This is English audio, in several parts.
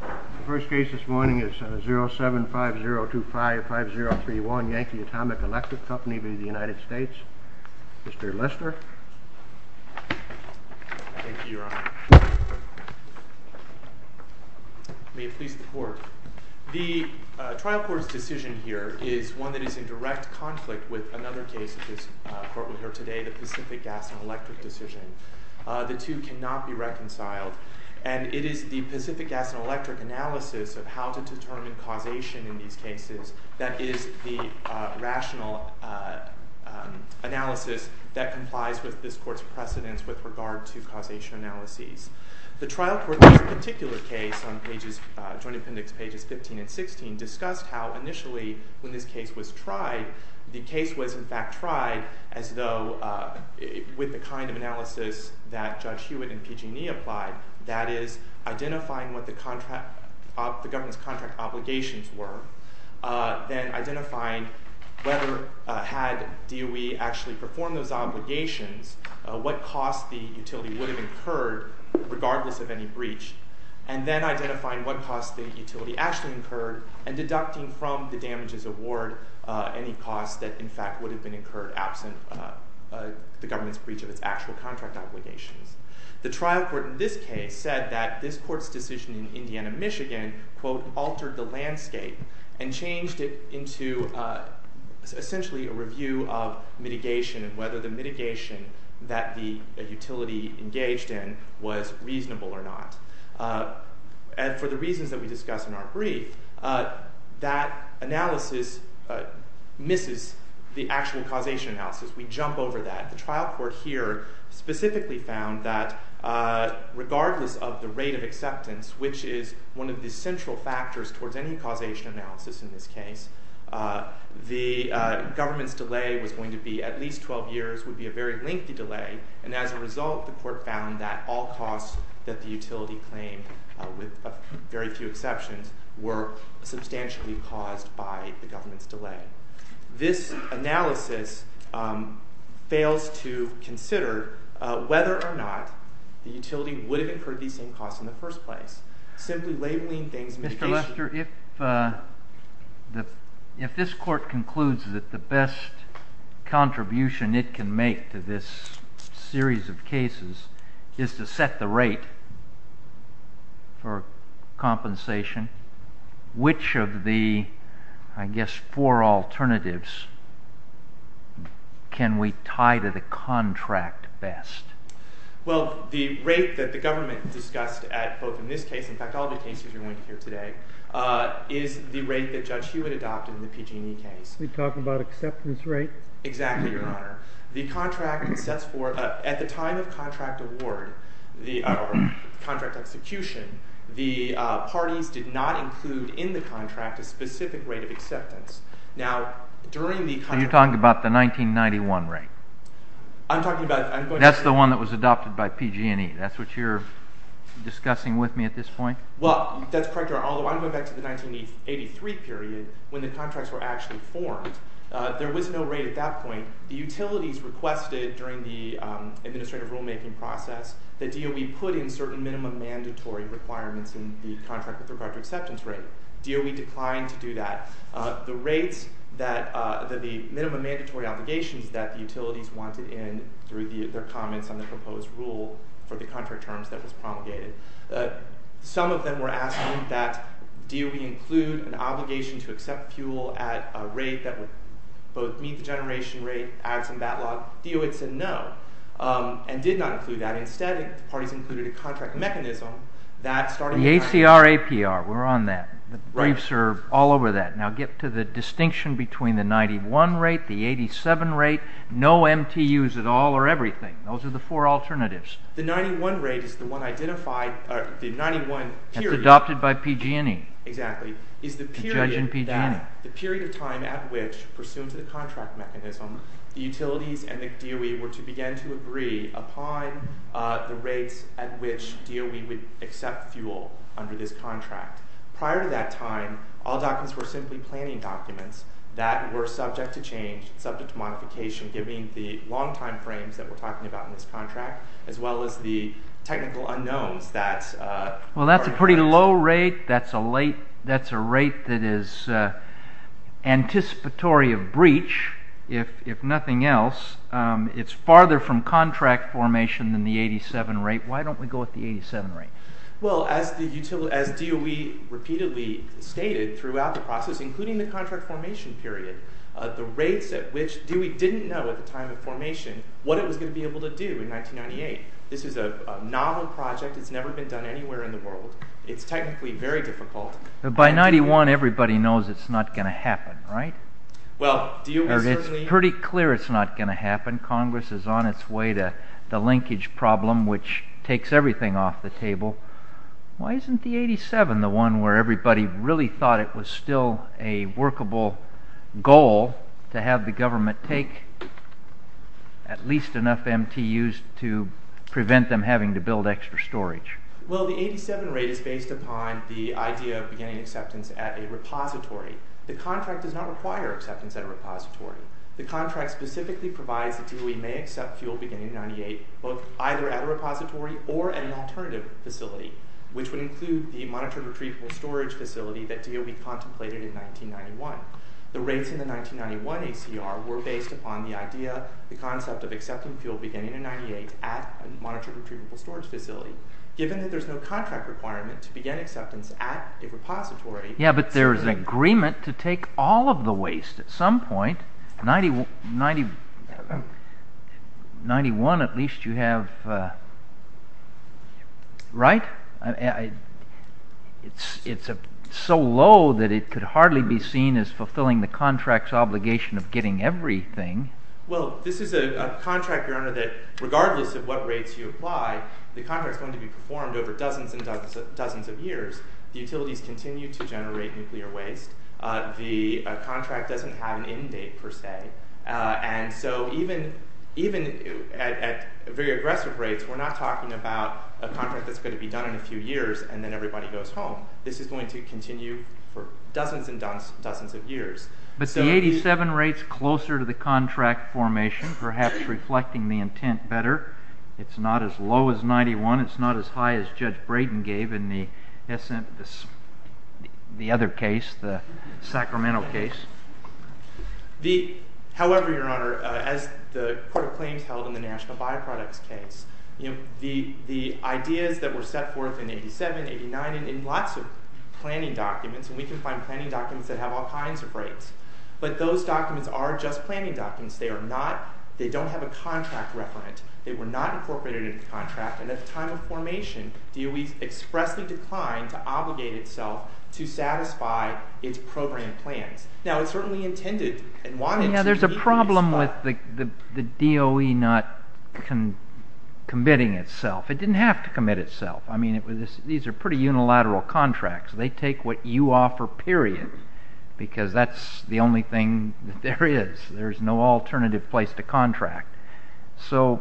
The first case this morning is 0750255031, Yankee Atomic Electric Company v. United States. Mr. Lister. Thank you, Your Honor. May it please the Court. The trial court's decision here is one that is in direct conflict with another case that this court will hear today, the Pacific Gas and Electric decision. The two cannot be reconciled, and it is the Pacific Gas and Electric analysis of how to determine causation in these cases that is the rational analysis that complies with this court's precedence with regard to causation analyses. The trial court in this particular case on Joint Appendix Pages 15 and 16 discussed how initially when this case was tried, the case was in fact tried as though with the kind of analysis that Judge Hewitt and PG&E applied, that is, identifying what the government's contract obligations were, then identifying whether had DOE actually performed those obligations, what cost the utility would have incurred regardless of any breach, and then identifying what cost the utility actually incurred and deducting from the damages award any cost that in fact would have been incurred absent the government's breach of its actual contract obligations. The trial court in this case said that this court's decision in Indiana, Michigan, quote, altered the landscape and changed it into essentially a review of mitigation and whether the mitigation that the utility engaged in was reasonable or not. And for the reasons that we discuss in our brief, that analysis misses the actual causation analysis. We jump over that. The trial court here specifically found that regardless of the rate of acceptance, which is one of the central factors towards any causation analysis in this case, the government's delay was going to be at least 12 years, would be a very lengthy delay. And as a result, the court found that all costs that the utility claimed, with very few exceptions, were substantially caused by the government's delay. This analysis fails to consider whether or not the utility would have incurred these same costs in the first place. Simply labeling things— Professor, if this court concludes that the best contribution it can make to this series of cases is to set the rate for compensation, which of the, I guess, four alternatives can we tie to the contract best? Well, the rate that the government discussed at both in this case, in fact, all the cases you're going to hear today, is the rate that Judge Hewitt adopted in the PG&E case. You're talking about acceptance rate? Exactly, Your Honor. The contract sets for—at the time of contract award, or contract execution, the parties did not include in the contract a specific rate of acceptance. Now, during the contract— Are you talking about the 1991 rate? I'm talking about— That's the one that was adopted by PG&E. That's what you're discussing with me at this point? Well, that's correct, Your Honor, although I'm going back to the 1983 period when the contracts were actually formed. There was no rate at that point. The utilities requested during the administrative rulemaking process that DOE put in certain minimum mandatory requirements in the contract with regard to acceptance rate. DOE declined to do that. The rates that—the minimum mandatory obligations that the utilities wanted in through their comments on the proposed rule for the contract terms that was promulgated, some of them were asking that DOE include an obligation to accept fuel at a rate that would both meet the generation rate as in that law. DOE said no and did not include that. Instead, the parties included a contract mechanism that started— The ACR-APR, we're on that. The briefs are all over that. Now, get to the distinction between the 91 rate, the 87 rate, no MTUs at all or everything. Those are the four alternatives. The 91 rate is the one identified—the 91 period— That's adopted by PG&E. The judge in PG&E. The period of time at which, pursuant to the contract mechanism, the utilities and the DOE were to begin to agree upon the rates at which DOE would accept fuel under this contract. Prior to that time, all documents were simply planning documents that were subject to change, subject to modification, given the long time frames that we're talking about in this contract, as well as the technical unknowns that— Well, that's a pretty low rate. That's a rate that is anticipatory of breach, if nothing else. It's farther from contract formation than the 87 rate. Why don't we go with the 87 rate? Well, as DOE repeatedly stated throughout the process, including the contract formation period, the rates at which—DOE didn't know at the time of formation what it was going to be able to do in 1998. This is a novel project. It's never been done anywhere in the world. It's technically very difficult. By 91, everybody knows it's not going to happen, right? Well, DOE certainly— Why isn't the 87 the one where everybody really thought it was still a workable goal to have the government take at least enough MTUs to prevent them having to build extra storage? Well, the 87 rate is based upon the idea of beginning acceptance at a repository. The contract does not require acceptance at a repository. The contract specifically provides that DOE may accept fuel beginning in 98, either at a repository or at an alternative facility, which would include the monitored retrievable storage facility that DOE contemplated in 1991. The rates in the 1991 ACR were based upon the idea—the concept of accepting fuel beginning in 98 at a monitored retrievable storage facility. Given that there's no contract requirement to begin acceptance at a repository— Well, this is a contract, Your Honor, that regardless of what rates you apply, the contract is going to be performed over dozens and dozens of years. The utilities continue to generate nuclear waste. The contract doesn't have an end date, per se. And so even at very aggressive rates, we're not talking about a contract that's going to be done in a few years and then everybody goes home. This is going to continue for dozens and dozens of years. But the 87 rate's closer to the contract formation, perhaps reflecting the intent better. It's not as low as 91. It's not as high as Judge Braden gave in the other case, the Sacramento case. However, Your Honor, as the Court of Claims held in the National Byproducts case, the ideas that were set forth in 87, 89, and in lots of planning documents—and we can find planning documents that have all kinds of rates—but those documents are just planning documents. They don't have a contract requirement. They were not incorporated into the contract. And at the time of formation, DOE expressly declined to obligate itself to satisfy its program plans. There's a problem with the DOE not committing itself. It didn't have to commit itself. These are pretty unilateral contracts. They take what you offer, period, because that's the only thing that there is. There's no alternative place to contract. So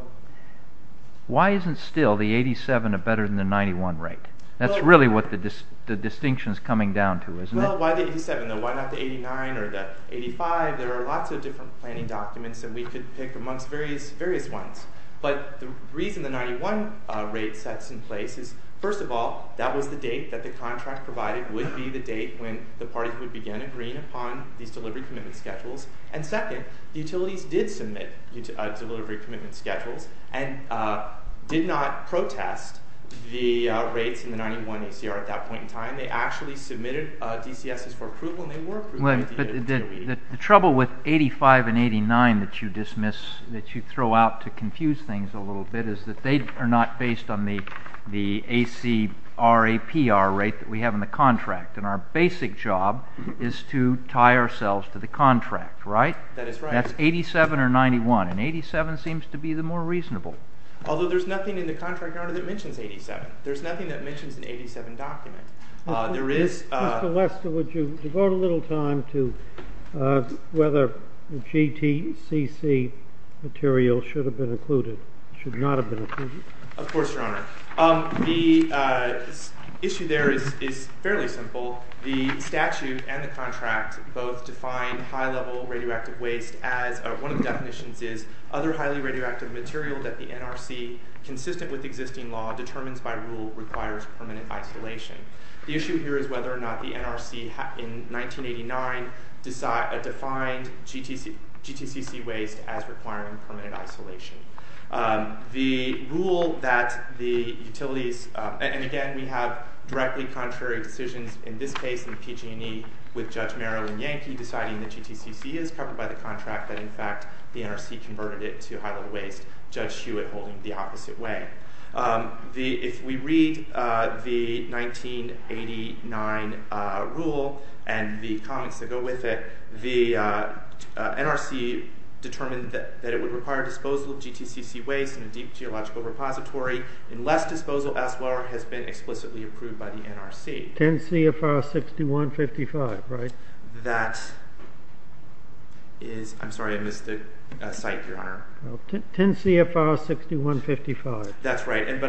why isn't still the 87 a better than the 91 rate? That's really what the distinction is coming down to, isn't it? Well, why the 87, though? Why not the 89 or the 85? There are lots of different planning documents that we could pick amongst various ones. But the reason the 91 rate sets in place is, first of all, that was the date that the contract provided would be the date when the parties would begin agreeing upon these delivery commitment schedules. And second, the utilities did submit delivery commitment schedules and did not protest the rates in the 91 ACR at that point in time. They actually submitted DCSs for approval, and they were approved by the DOE. The trouble with 85 and 89 that you dismiss, that you throw out to confuse things a little bit, is that they are not based on the ACRAPR rate that we have in the contract. And our basic job is to tie ourselves to the contract, right? That is right. That's 87 or 91, and 87 seems to be the more reasonable. Although there's nothing in the contract order that mentions 87. There's nothing that mentions an 87 document. Mr. Lester, would you devote a little time to whether GTCC material should have been included, should not have been included? Of course, Your Honor. The issue there is fairly simple. The statute and the contract both define high-level radioactive waste as, one of the definitions is, other highly radioactive material that the NRC, consistent with existing law, determines by rule requires permanent isolation. The issue here is whether or not the NRC in 1989 defined GTCC waste as requiring permanent isolation. The rule that the utilities – and again, we have directly contrary decisions in this case in PG&E with Judge Marilyn Yankee deciding that GTCC is covered by the contract, that in fact the NRC converted it to high-level waste, Judge Hewitt holding the opposite way. If we read the 1989 rule and the comments that go with it, the NRC determined that it would require disposal of GTCC waste in a deep geological repository unless disposal as well has been explicitly approved by the NRC. 10 CFR 6155, right? That is – I'm sorry, I missed the site, Your Honor. 10 CFR 6155. That's right, and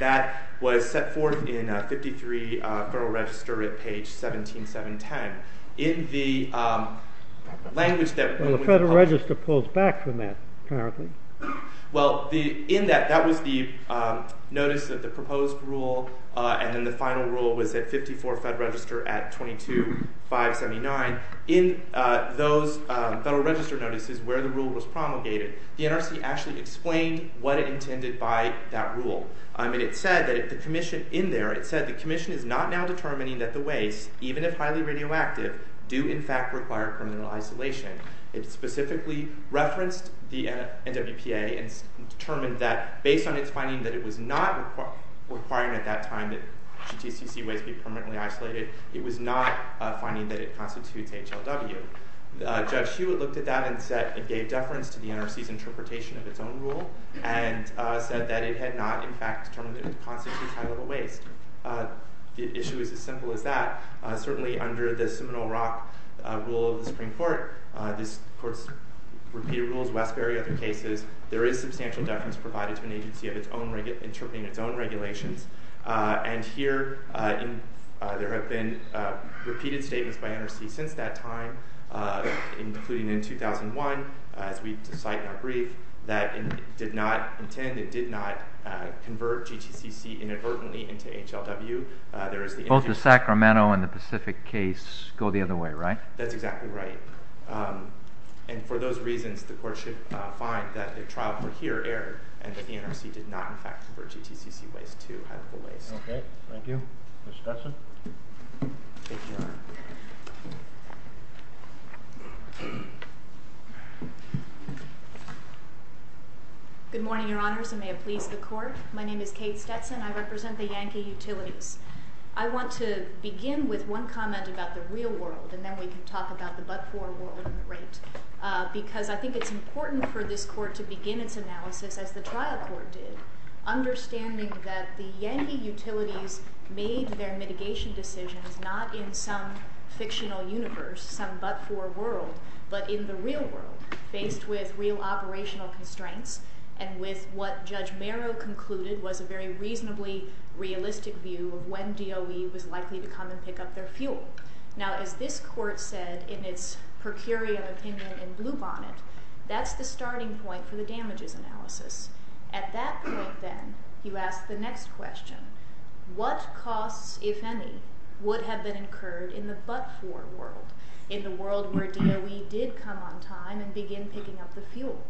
that was set forth in 53 Federal Register at page 17710. In the language that – Well, the Federal Register pulls back from that, apparently. Well, in that, that was the notice of the proposed rule, and then the final rule was at 54 Federal Register at 22579. In those Federal Register notices where the rule was promulgated, the NRC actually explained what it intended by that rule. I mean, it said that the commission in there, it said the commission is not now determining that the waste, even if highly radioactive, do in fact require criminal isolation. It specifically referenced the NWPA and determined that based on its finding that it was not requiring at that time that GTCC waste be permanently isolated, it was not finding that it constitutes HLW. Judge Hewitt looked at that and said it gave deference to the NRC's interpretation of its own rule and said that it had not, in fact, determined that it constitutes high-level waste. The issue is as simple as that. Certainly under the Seminole Rock rule of the Supreme Court, this court's repeated rules, Westbury, other cases, there is substantial deference provided to an agency interpreting its own regulations. And here, there have been repeated statements by NRC since that time, including in 2001, as we cite in our brief, that it did not intend, it did not convert GTCC inadvertently into HLW. Both the Sacramento and the Pacific case go the other way, right? That's exactly right. And for those reasons, the court should find that the trial for here erred and that the NRC did not, in fact, convert GTCC waste to HLW. Okay, thank you. Ms. Stetson? Good morning, Your Honors, and may it please the Court. My name is Kate Stetson. I represent the Yankee Utilities. I want to begin with one comment about the real world, and then we can talk about the but-for world, because I think it's important for this court to begin its analysis, as the trial court did, understanding that the Yankee Utilities made their mitigation decisions not in some fictional universe, some but-for world, but in the real world, faced with real operational constraints and with what Judge Merrow concluded was a very reasonably realistic view of when DOE was likely to come and pick up their fuel. Now, as this court said in its per curia opinion in Bluebonnet, that's the starting point for the damages analysis. At that point, then, you ask the next question. What costs, if any, would have been incurred in the but-for world, in the world where DOE did come on time and begin picking up the fuel?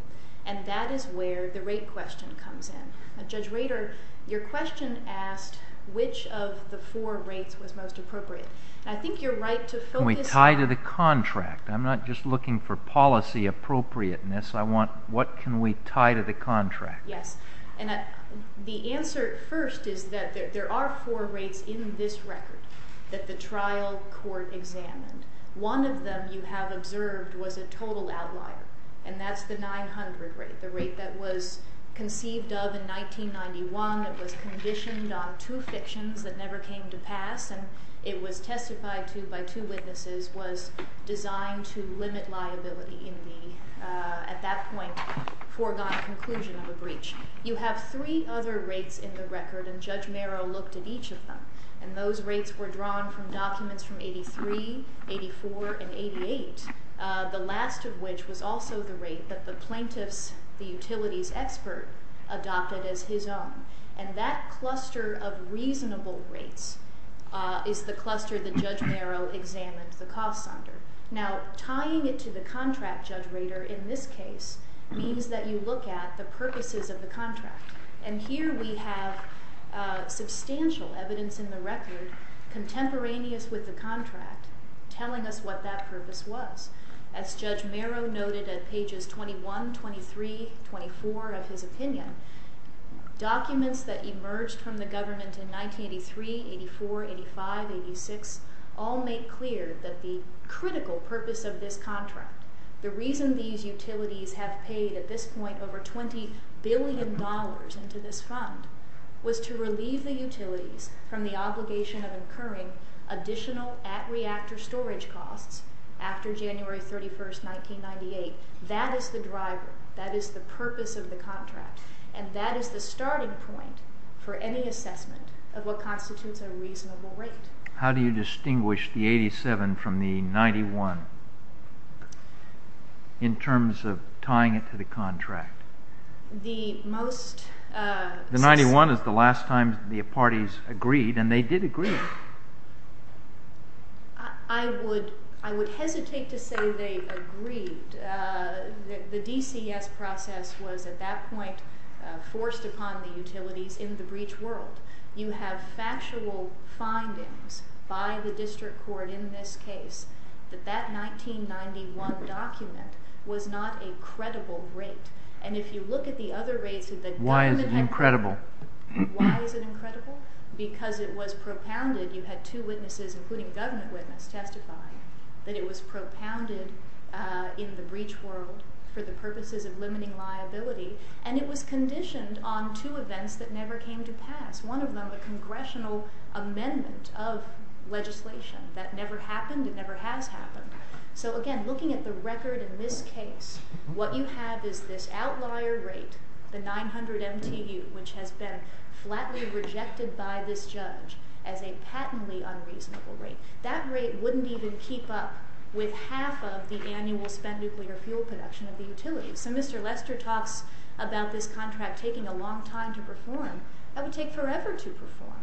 And that is where the rate question comes in. Judge Rader, your question asked which of the four rates was most appropriate. And I think you're right to focus on— Can we tie to the contract? I'm not just looking for policy appropriateness. What can we tie to the contract? Yes. And the answer first is that there are four rates in this record that the trial court examined. One of them, you have observed, was a total outlier, and that's the 900 rate, the rate that was conceived of in 1991. It was one that was conditioned on two fictions that never came to pass, and it was testified to by two witnesses, was designed to limit liability in the, at that point, foregone conclusion of a breach. You have three other rates in the record, and Judge Merrow looked at each of them, and those rates were drawn from documents from 83, 84, and 88, the last of which was also the rate that the plaintiff's, the utility's expert adopted as his own. And that cluster of reasonable rates is the cluster that Judge Merrow examined the costs under. Now, tying it to the contract, Judge Rader, in this case means that you look at the purposes of the contract. And here we have substantial evidence in the record contemporaneous with the contract telling us what that purpose was. As Judge Merrow noted at pages 21, 23, 24 of his opinion, documents that emerged from the government in 1983, 84, 85, 86, all make clear that the critical purpose of this contract, the reason these utilities have paid, at this point, over $20 billion into this fund, was to relieve the utilities from the obligation of incurring additional at-reactor storage costs after January 31, 1998. That is the driver. That is the purpose of the contract. And that is the starting point for any assessment of what constitutes a reasonable rate. How do you distinguish the 87 from the 91 in terms of tying it to the contract? The most... The 91 is the last time the parties agreed, and they did agree. I would hesitate to say they agreed. The DCS process was, at that point, forced upon the utilities in the breach world. You have factual findings by the district court in this case that that 1991 document was not a credible rate. And if you look at the other rates... Why is it incredible? Why is it incredible? Because it was propounded. You had two witnesses, including a government witness, testify that it was propounded in the breach world for the purposes of limiting liability. And it was conditioned on two events that never came to pass. One of them, a congressional amendment of legislation. That never happened. It never has happened. So, again, looking at the record in this case, what you have is this outlier rate, the 900 MTU, which has been flatly rejected by this judge as a patently unreasonable rate. That rate wouldn't even keep up with half of the annual spent nuclear fuel production of the utilities. So Mr. Lester talks about this contract taking a long time to perform. That would take forever to perform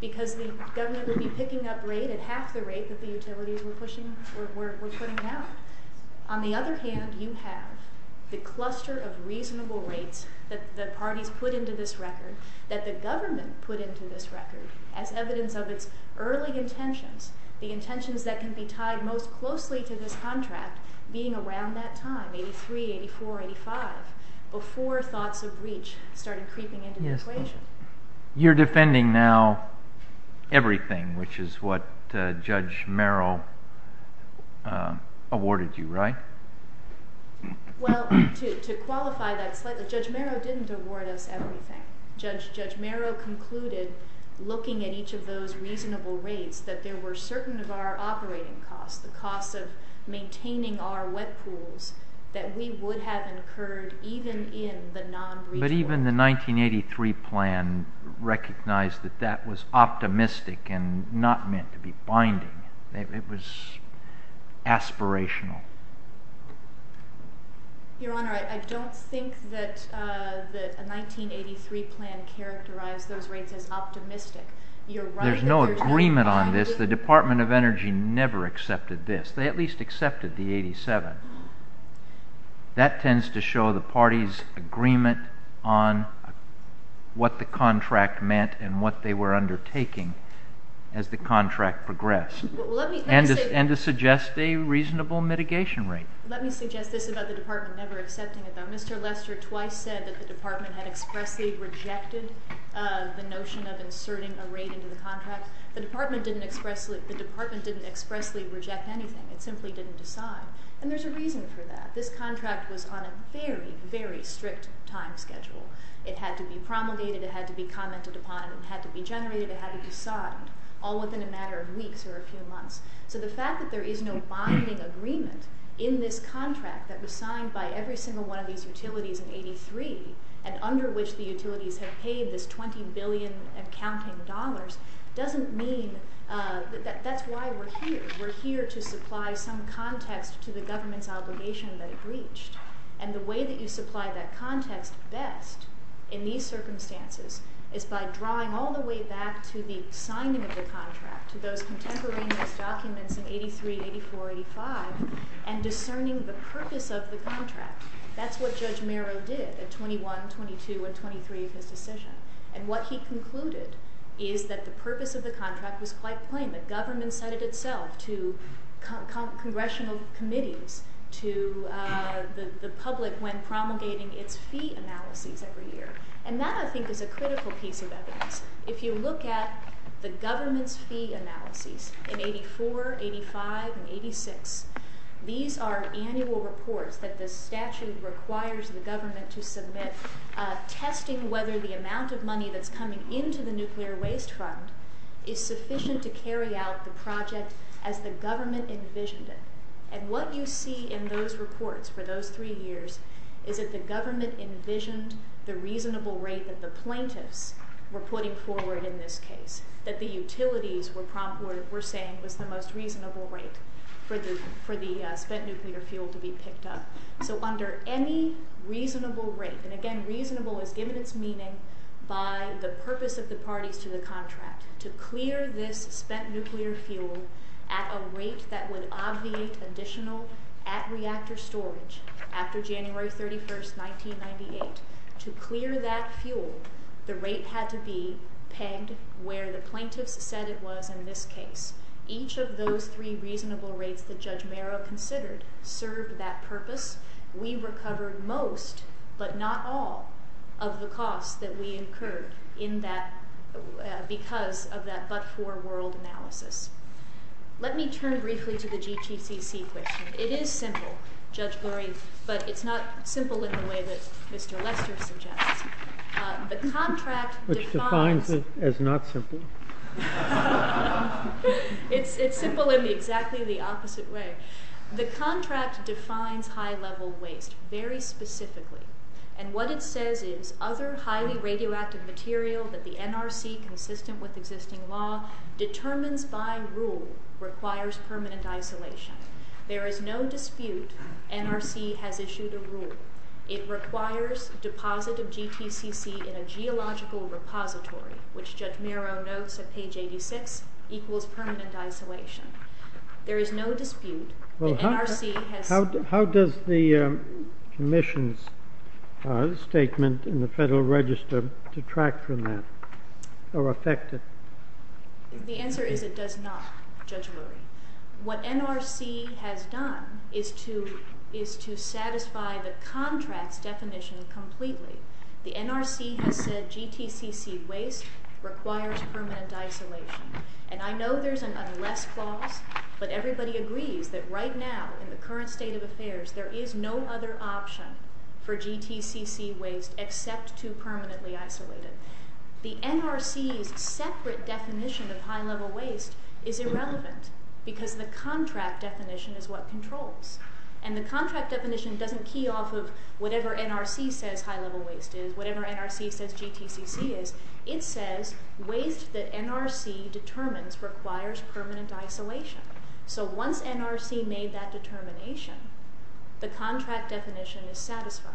because the government would be picking up rate at half the rate that the utilities were putting out. On the other hand, you have the cluster of reasonable rates that the parties put into this record, that the government put into this record as evidence of its early intentions, the intentions that can be tied most closely to this contract being around that time, 83, 84, 85, before thoughts of breach started creeping into the equation. You're defending now everything, which is what Judge Merrow awarded you, right? Well, to qualify that slightly, Judge Merrow didn't award us everything. Judge Merrow concluded, looking at each of those reasonable rates, that there were certain of our operating costs, the costs of maintaining our wet pools, that we would have incurred even in the non-breach order. But even the 1983 plan recognized that that was optimistic and not meant to be binding. It was aspirational. Your Honor, I don't think that the 1983 plan characterized those rates as optimistic. There's no agreement on this. The Department of Energy never accepted this. They at least accepted the 87. That tends to show the parties' agreement on what the contract meant and what they were undertaking as the contract progressed, and to suggest a reasonable mitigation rate. Let me suggest this about the Department never accepting it. Mr. Lester twice said that the Department had expressly rejected the notion of inserting a rate into the contract. The Department didn't expressly reject anything. It simply didn't decide. And there's a reason for that. This contract was on a very, very strict time schedule. It had to be promulgated. It had to be commented upon. It had to be generated. It had to be signed, all within a matter of weeks or a few months. So the fact that there is no binding agreement in this contract that was signed by every single one of these utilities in 1983 and under which the utilities have paid this $20 billion and counting dollars doesn't mean that that's why we're here. We're here to supply some context to the government's obligation that it reached. And the way that you supply that context best in these circumstances is by drawing all the way back to the signing of the contract, to those contemporaneous documents in 1983, 1984, 1985, and discerning the purpose of the contract. That's what Judge Merrill did at 21, 22, and 23 of his decision. And what he concluded is that the purpose of the contract was quite plain. The government set it itself to congressional committees, to the public when promulgating its fee analyses every year. And that, I think, is a critical piece of evidence. If you look at the government's fee analyses in 84, 85, and 86, these are annual reports that the statute requires the government to submit testing whether the amount of money that's coming into the nuclear waste fund is sufficient to carry out the project as the government envisioned it. And what you see in those reports for those three years is that the government envisioned the reasonable rate that the plaintiffs were putting forward in this case, that the utilities were saying was the most reasonable rate for the spent nuclear fuel to be picked up. So under any reasonable rate, and, again, reasonable is given its meaning by the purpose of the parties to the contract, to clear this spent nuclear fuel at a rate that would obviate additional at-reactor storage after January 31, 1998. To clear that fuel, the rate had to be pegged where the plaintiffs said it was in this case. Each of those three reasonable rates that Judge Merrow considered served that purpose. We recovered most, but not all, of the costs that we incurred because of that but-for world analysis. Let me turn briefly to the GTCC question. It is simple, Judge Gorey, but it's not simple in the way that Mr. Lester suggests. The contract defines... Which defines it as not simple. It's simple in exactly the opposite way. The contract defines high-level waste very specifically, and what it says is other highly radioactive material that the NRC, consistent with existing law, determines by rule requires permanent isolation. There is no dispute NRC has issued a rule. It requires deposit of GTCC in a geological repository, which Judge Merrow notes at page 86, equals permanent isolation. There is no dispute that NRC has... How does the commission's statement in the Federal Register detract from that or affect it? The answer is it does not, Judge Lurie. What NRC has done is to satisfy the contract's definition completely. The NRC has said GTCC waste requires permanent isolation, and I know there's an unless clause, but everybody agrees that right now in the current state of affairs there is no other option for GTCC waste except to permanently isolate it. The NRC's separate definition of high-level waste is irrelevant because the contract definition is what controls, and the contract definition doesn't key off of whatever NRC says high-level waste is, whatever NRC says GTCC is. It says waste that NRC determines requires permanent isolation. So once NRC made that determination, the contract definition is satisfied.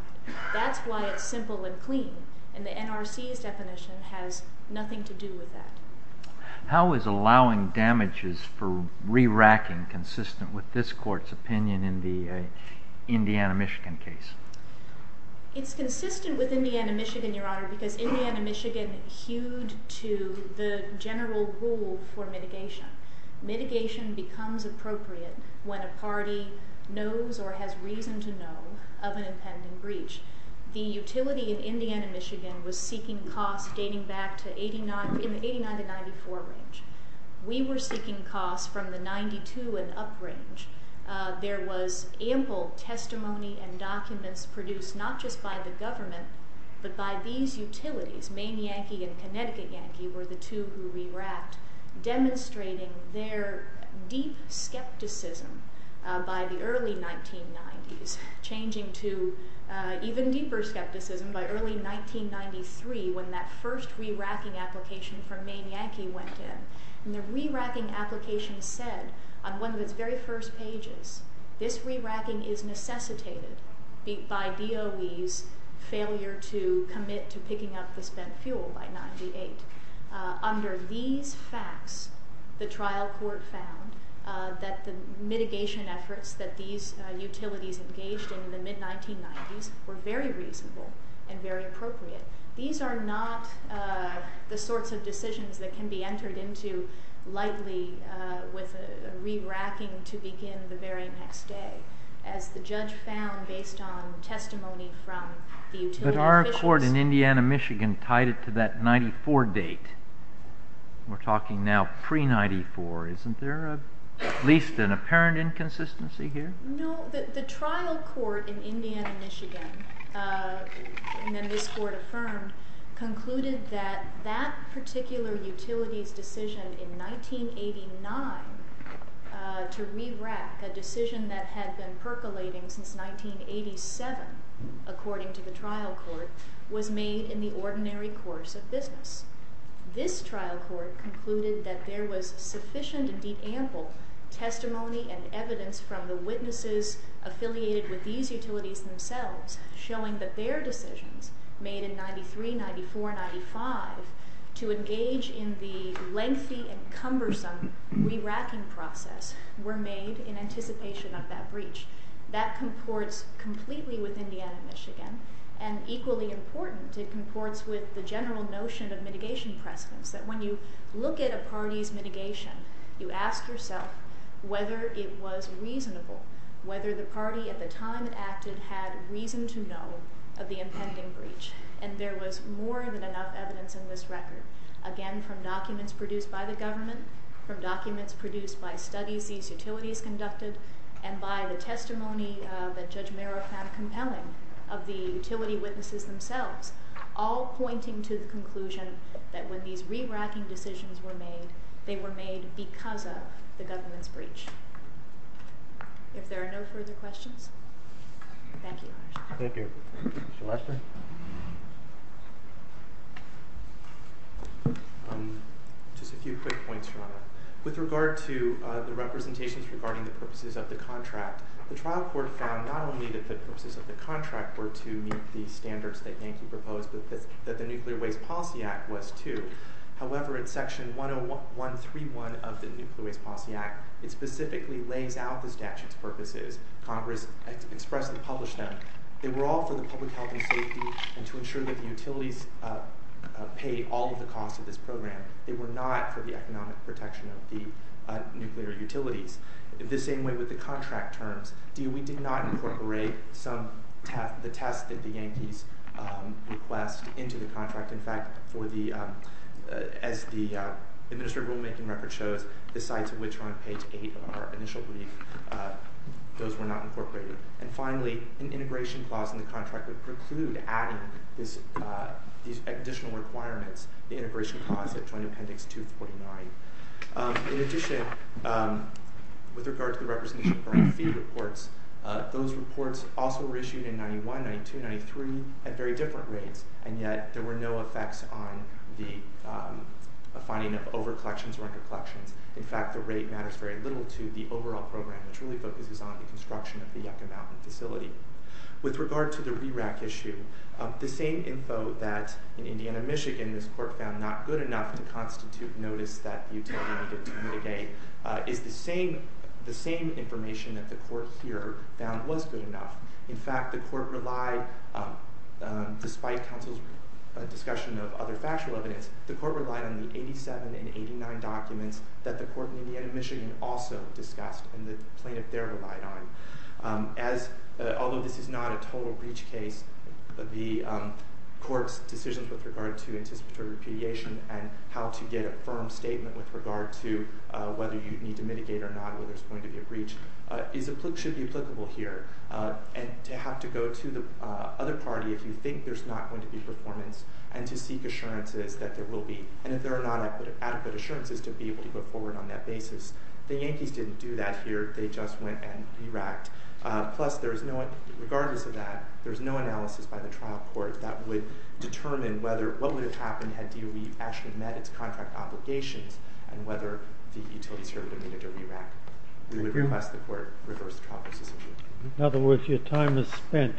That's why it's simple and clean, and the NRC's definition has nothing to do with that. How is allowing damages for re-racking consistent with this Court's opinion in the Indiana-Michigan case? It's consistent with Indiana-Michigan, Your Honor, because Indiana-Michigan hewed to the general rule for mitigation. Mitigation becomes appropriate when a party knows or has reason to know of an impending breach. The utility in Indiana-Michigan was seeking costs dating back to 89 to 94 range. We were seeking costs from the 92 and up range. There was ample testimony and documents produced not just by the government, but by these utilities. Maine Yankee and Connecticut Yankee were the two who re-racked, demonstrating their deep skepticism by the early 1990s, changing to even deeper skepticism by early 1993 when that first re-racking application for Maine Yankee went in. The re-racking application said on one of its very first pages, this re-racking is necessitated by DOE's failure to commit to picking up the spent fuel by 98. Under these facts, the trial court found that the mitigation efforts that these utilities engaged in in the mid-1990s were very reasonable and very appropriate. These are not the sorts of decisions that can be entered into lightly with a re-racking to begin the very next day. As the judge found based on testimony from the utility officials. The court in Indiana, Michigan tied it to that 94 date. We're talking now pre-94. Isn't there at least an apparent inconsistency here? No. The trial court in Indiana, Michigan, and then this court affirmed, concluded that that particular utility's decision in 1989 to re-rack, a decision that had been percolating since 1987, according to the trial court, was made in the ordinary course of business. This trial court concluded that there was sufficient, indeed ample, testimony and evidence from the witnesses affiliated with these utilities themselves showing that their decisions made in 93, 94, 95 to engage in the lengthy and cumbersome re-racking process were made in anticipation of that breach. That comports completely with Indiana, Michigan. And equally important, it comports with the general notion of mitigation precedence. That when you look at a party's mitigation, you ask yourself whether it was reasonable, whether the party at the time it acted had reason to know of the impending breach. And there was more than enough evidence in this record. Again, from documents produced by the government, from documents produced by studies these utilities conducted, and by the testimony that Judge Merrow found compelling of the utility witnesses themselves, all pointing to the conclusion that when these re-racking decisions were made, they were made because of the government's breach. If there are no further questions, thank you. Thank you. Just a few quick points, Your Honor. With regard to the representations regarding the purposes of the contract, the trial court found not only that the purposes of the contract were to meet the standards that Yankee proposed, but that the Nuclear Waste Policy Act was too. However, in Section 10131 of the Nuclear Waste Policy Act, it specifically lays out the statute's purposes. Congress expressly published them. They were all for the public health and safety and to ensure that the utilities pay all of the costs of this program. They were not for the economic protection of the nuclear utilities. In the same way with the contract terms, we did not incorporate the test that the Yankees request into the contract. In fact, as the administrative rulemaking record shows, the sites of which are on page 8 of our initial brief, those were not incorporated. And finally, an integration clause in the contract would preclude adding these additional requirements, the integration clause that joined Appendix 249. In addition, with regard to the representation regarding fee reports, those reports also were issued in 91, 92, 93 at very different rates, and yet there were no effects on the finding of over-collections or under-collections. In fact, the rate matters very little to the overall program, which really focuses on the construction of the Yucca Mountain facility. With regard to the RERAC issue, the same info that in Indiana, Michigan this court found not good enough to constitute notice that the utility needed to mitigate is the same information that the court here found was good enough. In fact, the court relied, despite counsel's discussion of other factual evidence, the court relied on the 87 and 89 documents that the court in Indiana, Michigan also discussed, and the plaintiff there relied on. Although this is not a total breach case, the court's decisions with regard to anticipatory repudiation and how to get a firm statement with regard to whether you need to mitigate or not, whether it's going to be a breach, should be applicable here. And to have to go to the other party if you think there's not going to be performance and to seek assurances that there will be, and if there are not adequate assurances to be able to put forward on that basis. The Yankees didn't do that here. They just went and re-racked. Plus, regardless of that, there's no analysis by the trial court that would determine whether what would have happened had DOE actually met its contract obligations and whether the utilities here would have needed to re-rack. We would request the court reverse the trial process. In other words, your time is spent.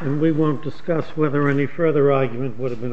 And we won't discuss whether any further argument would have been a waste.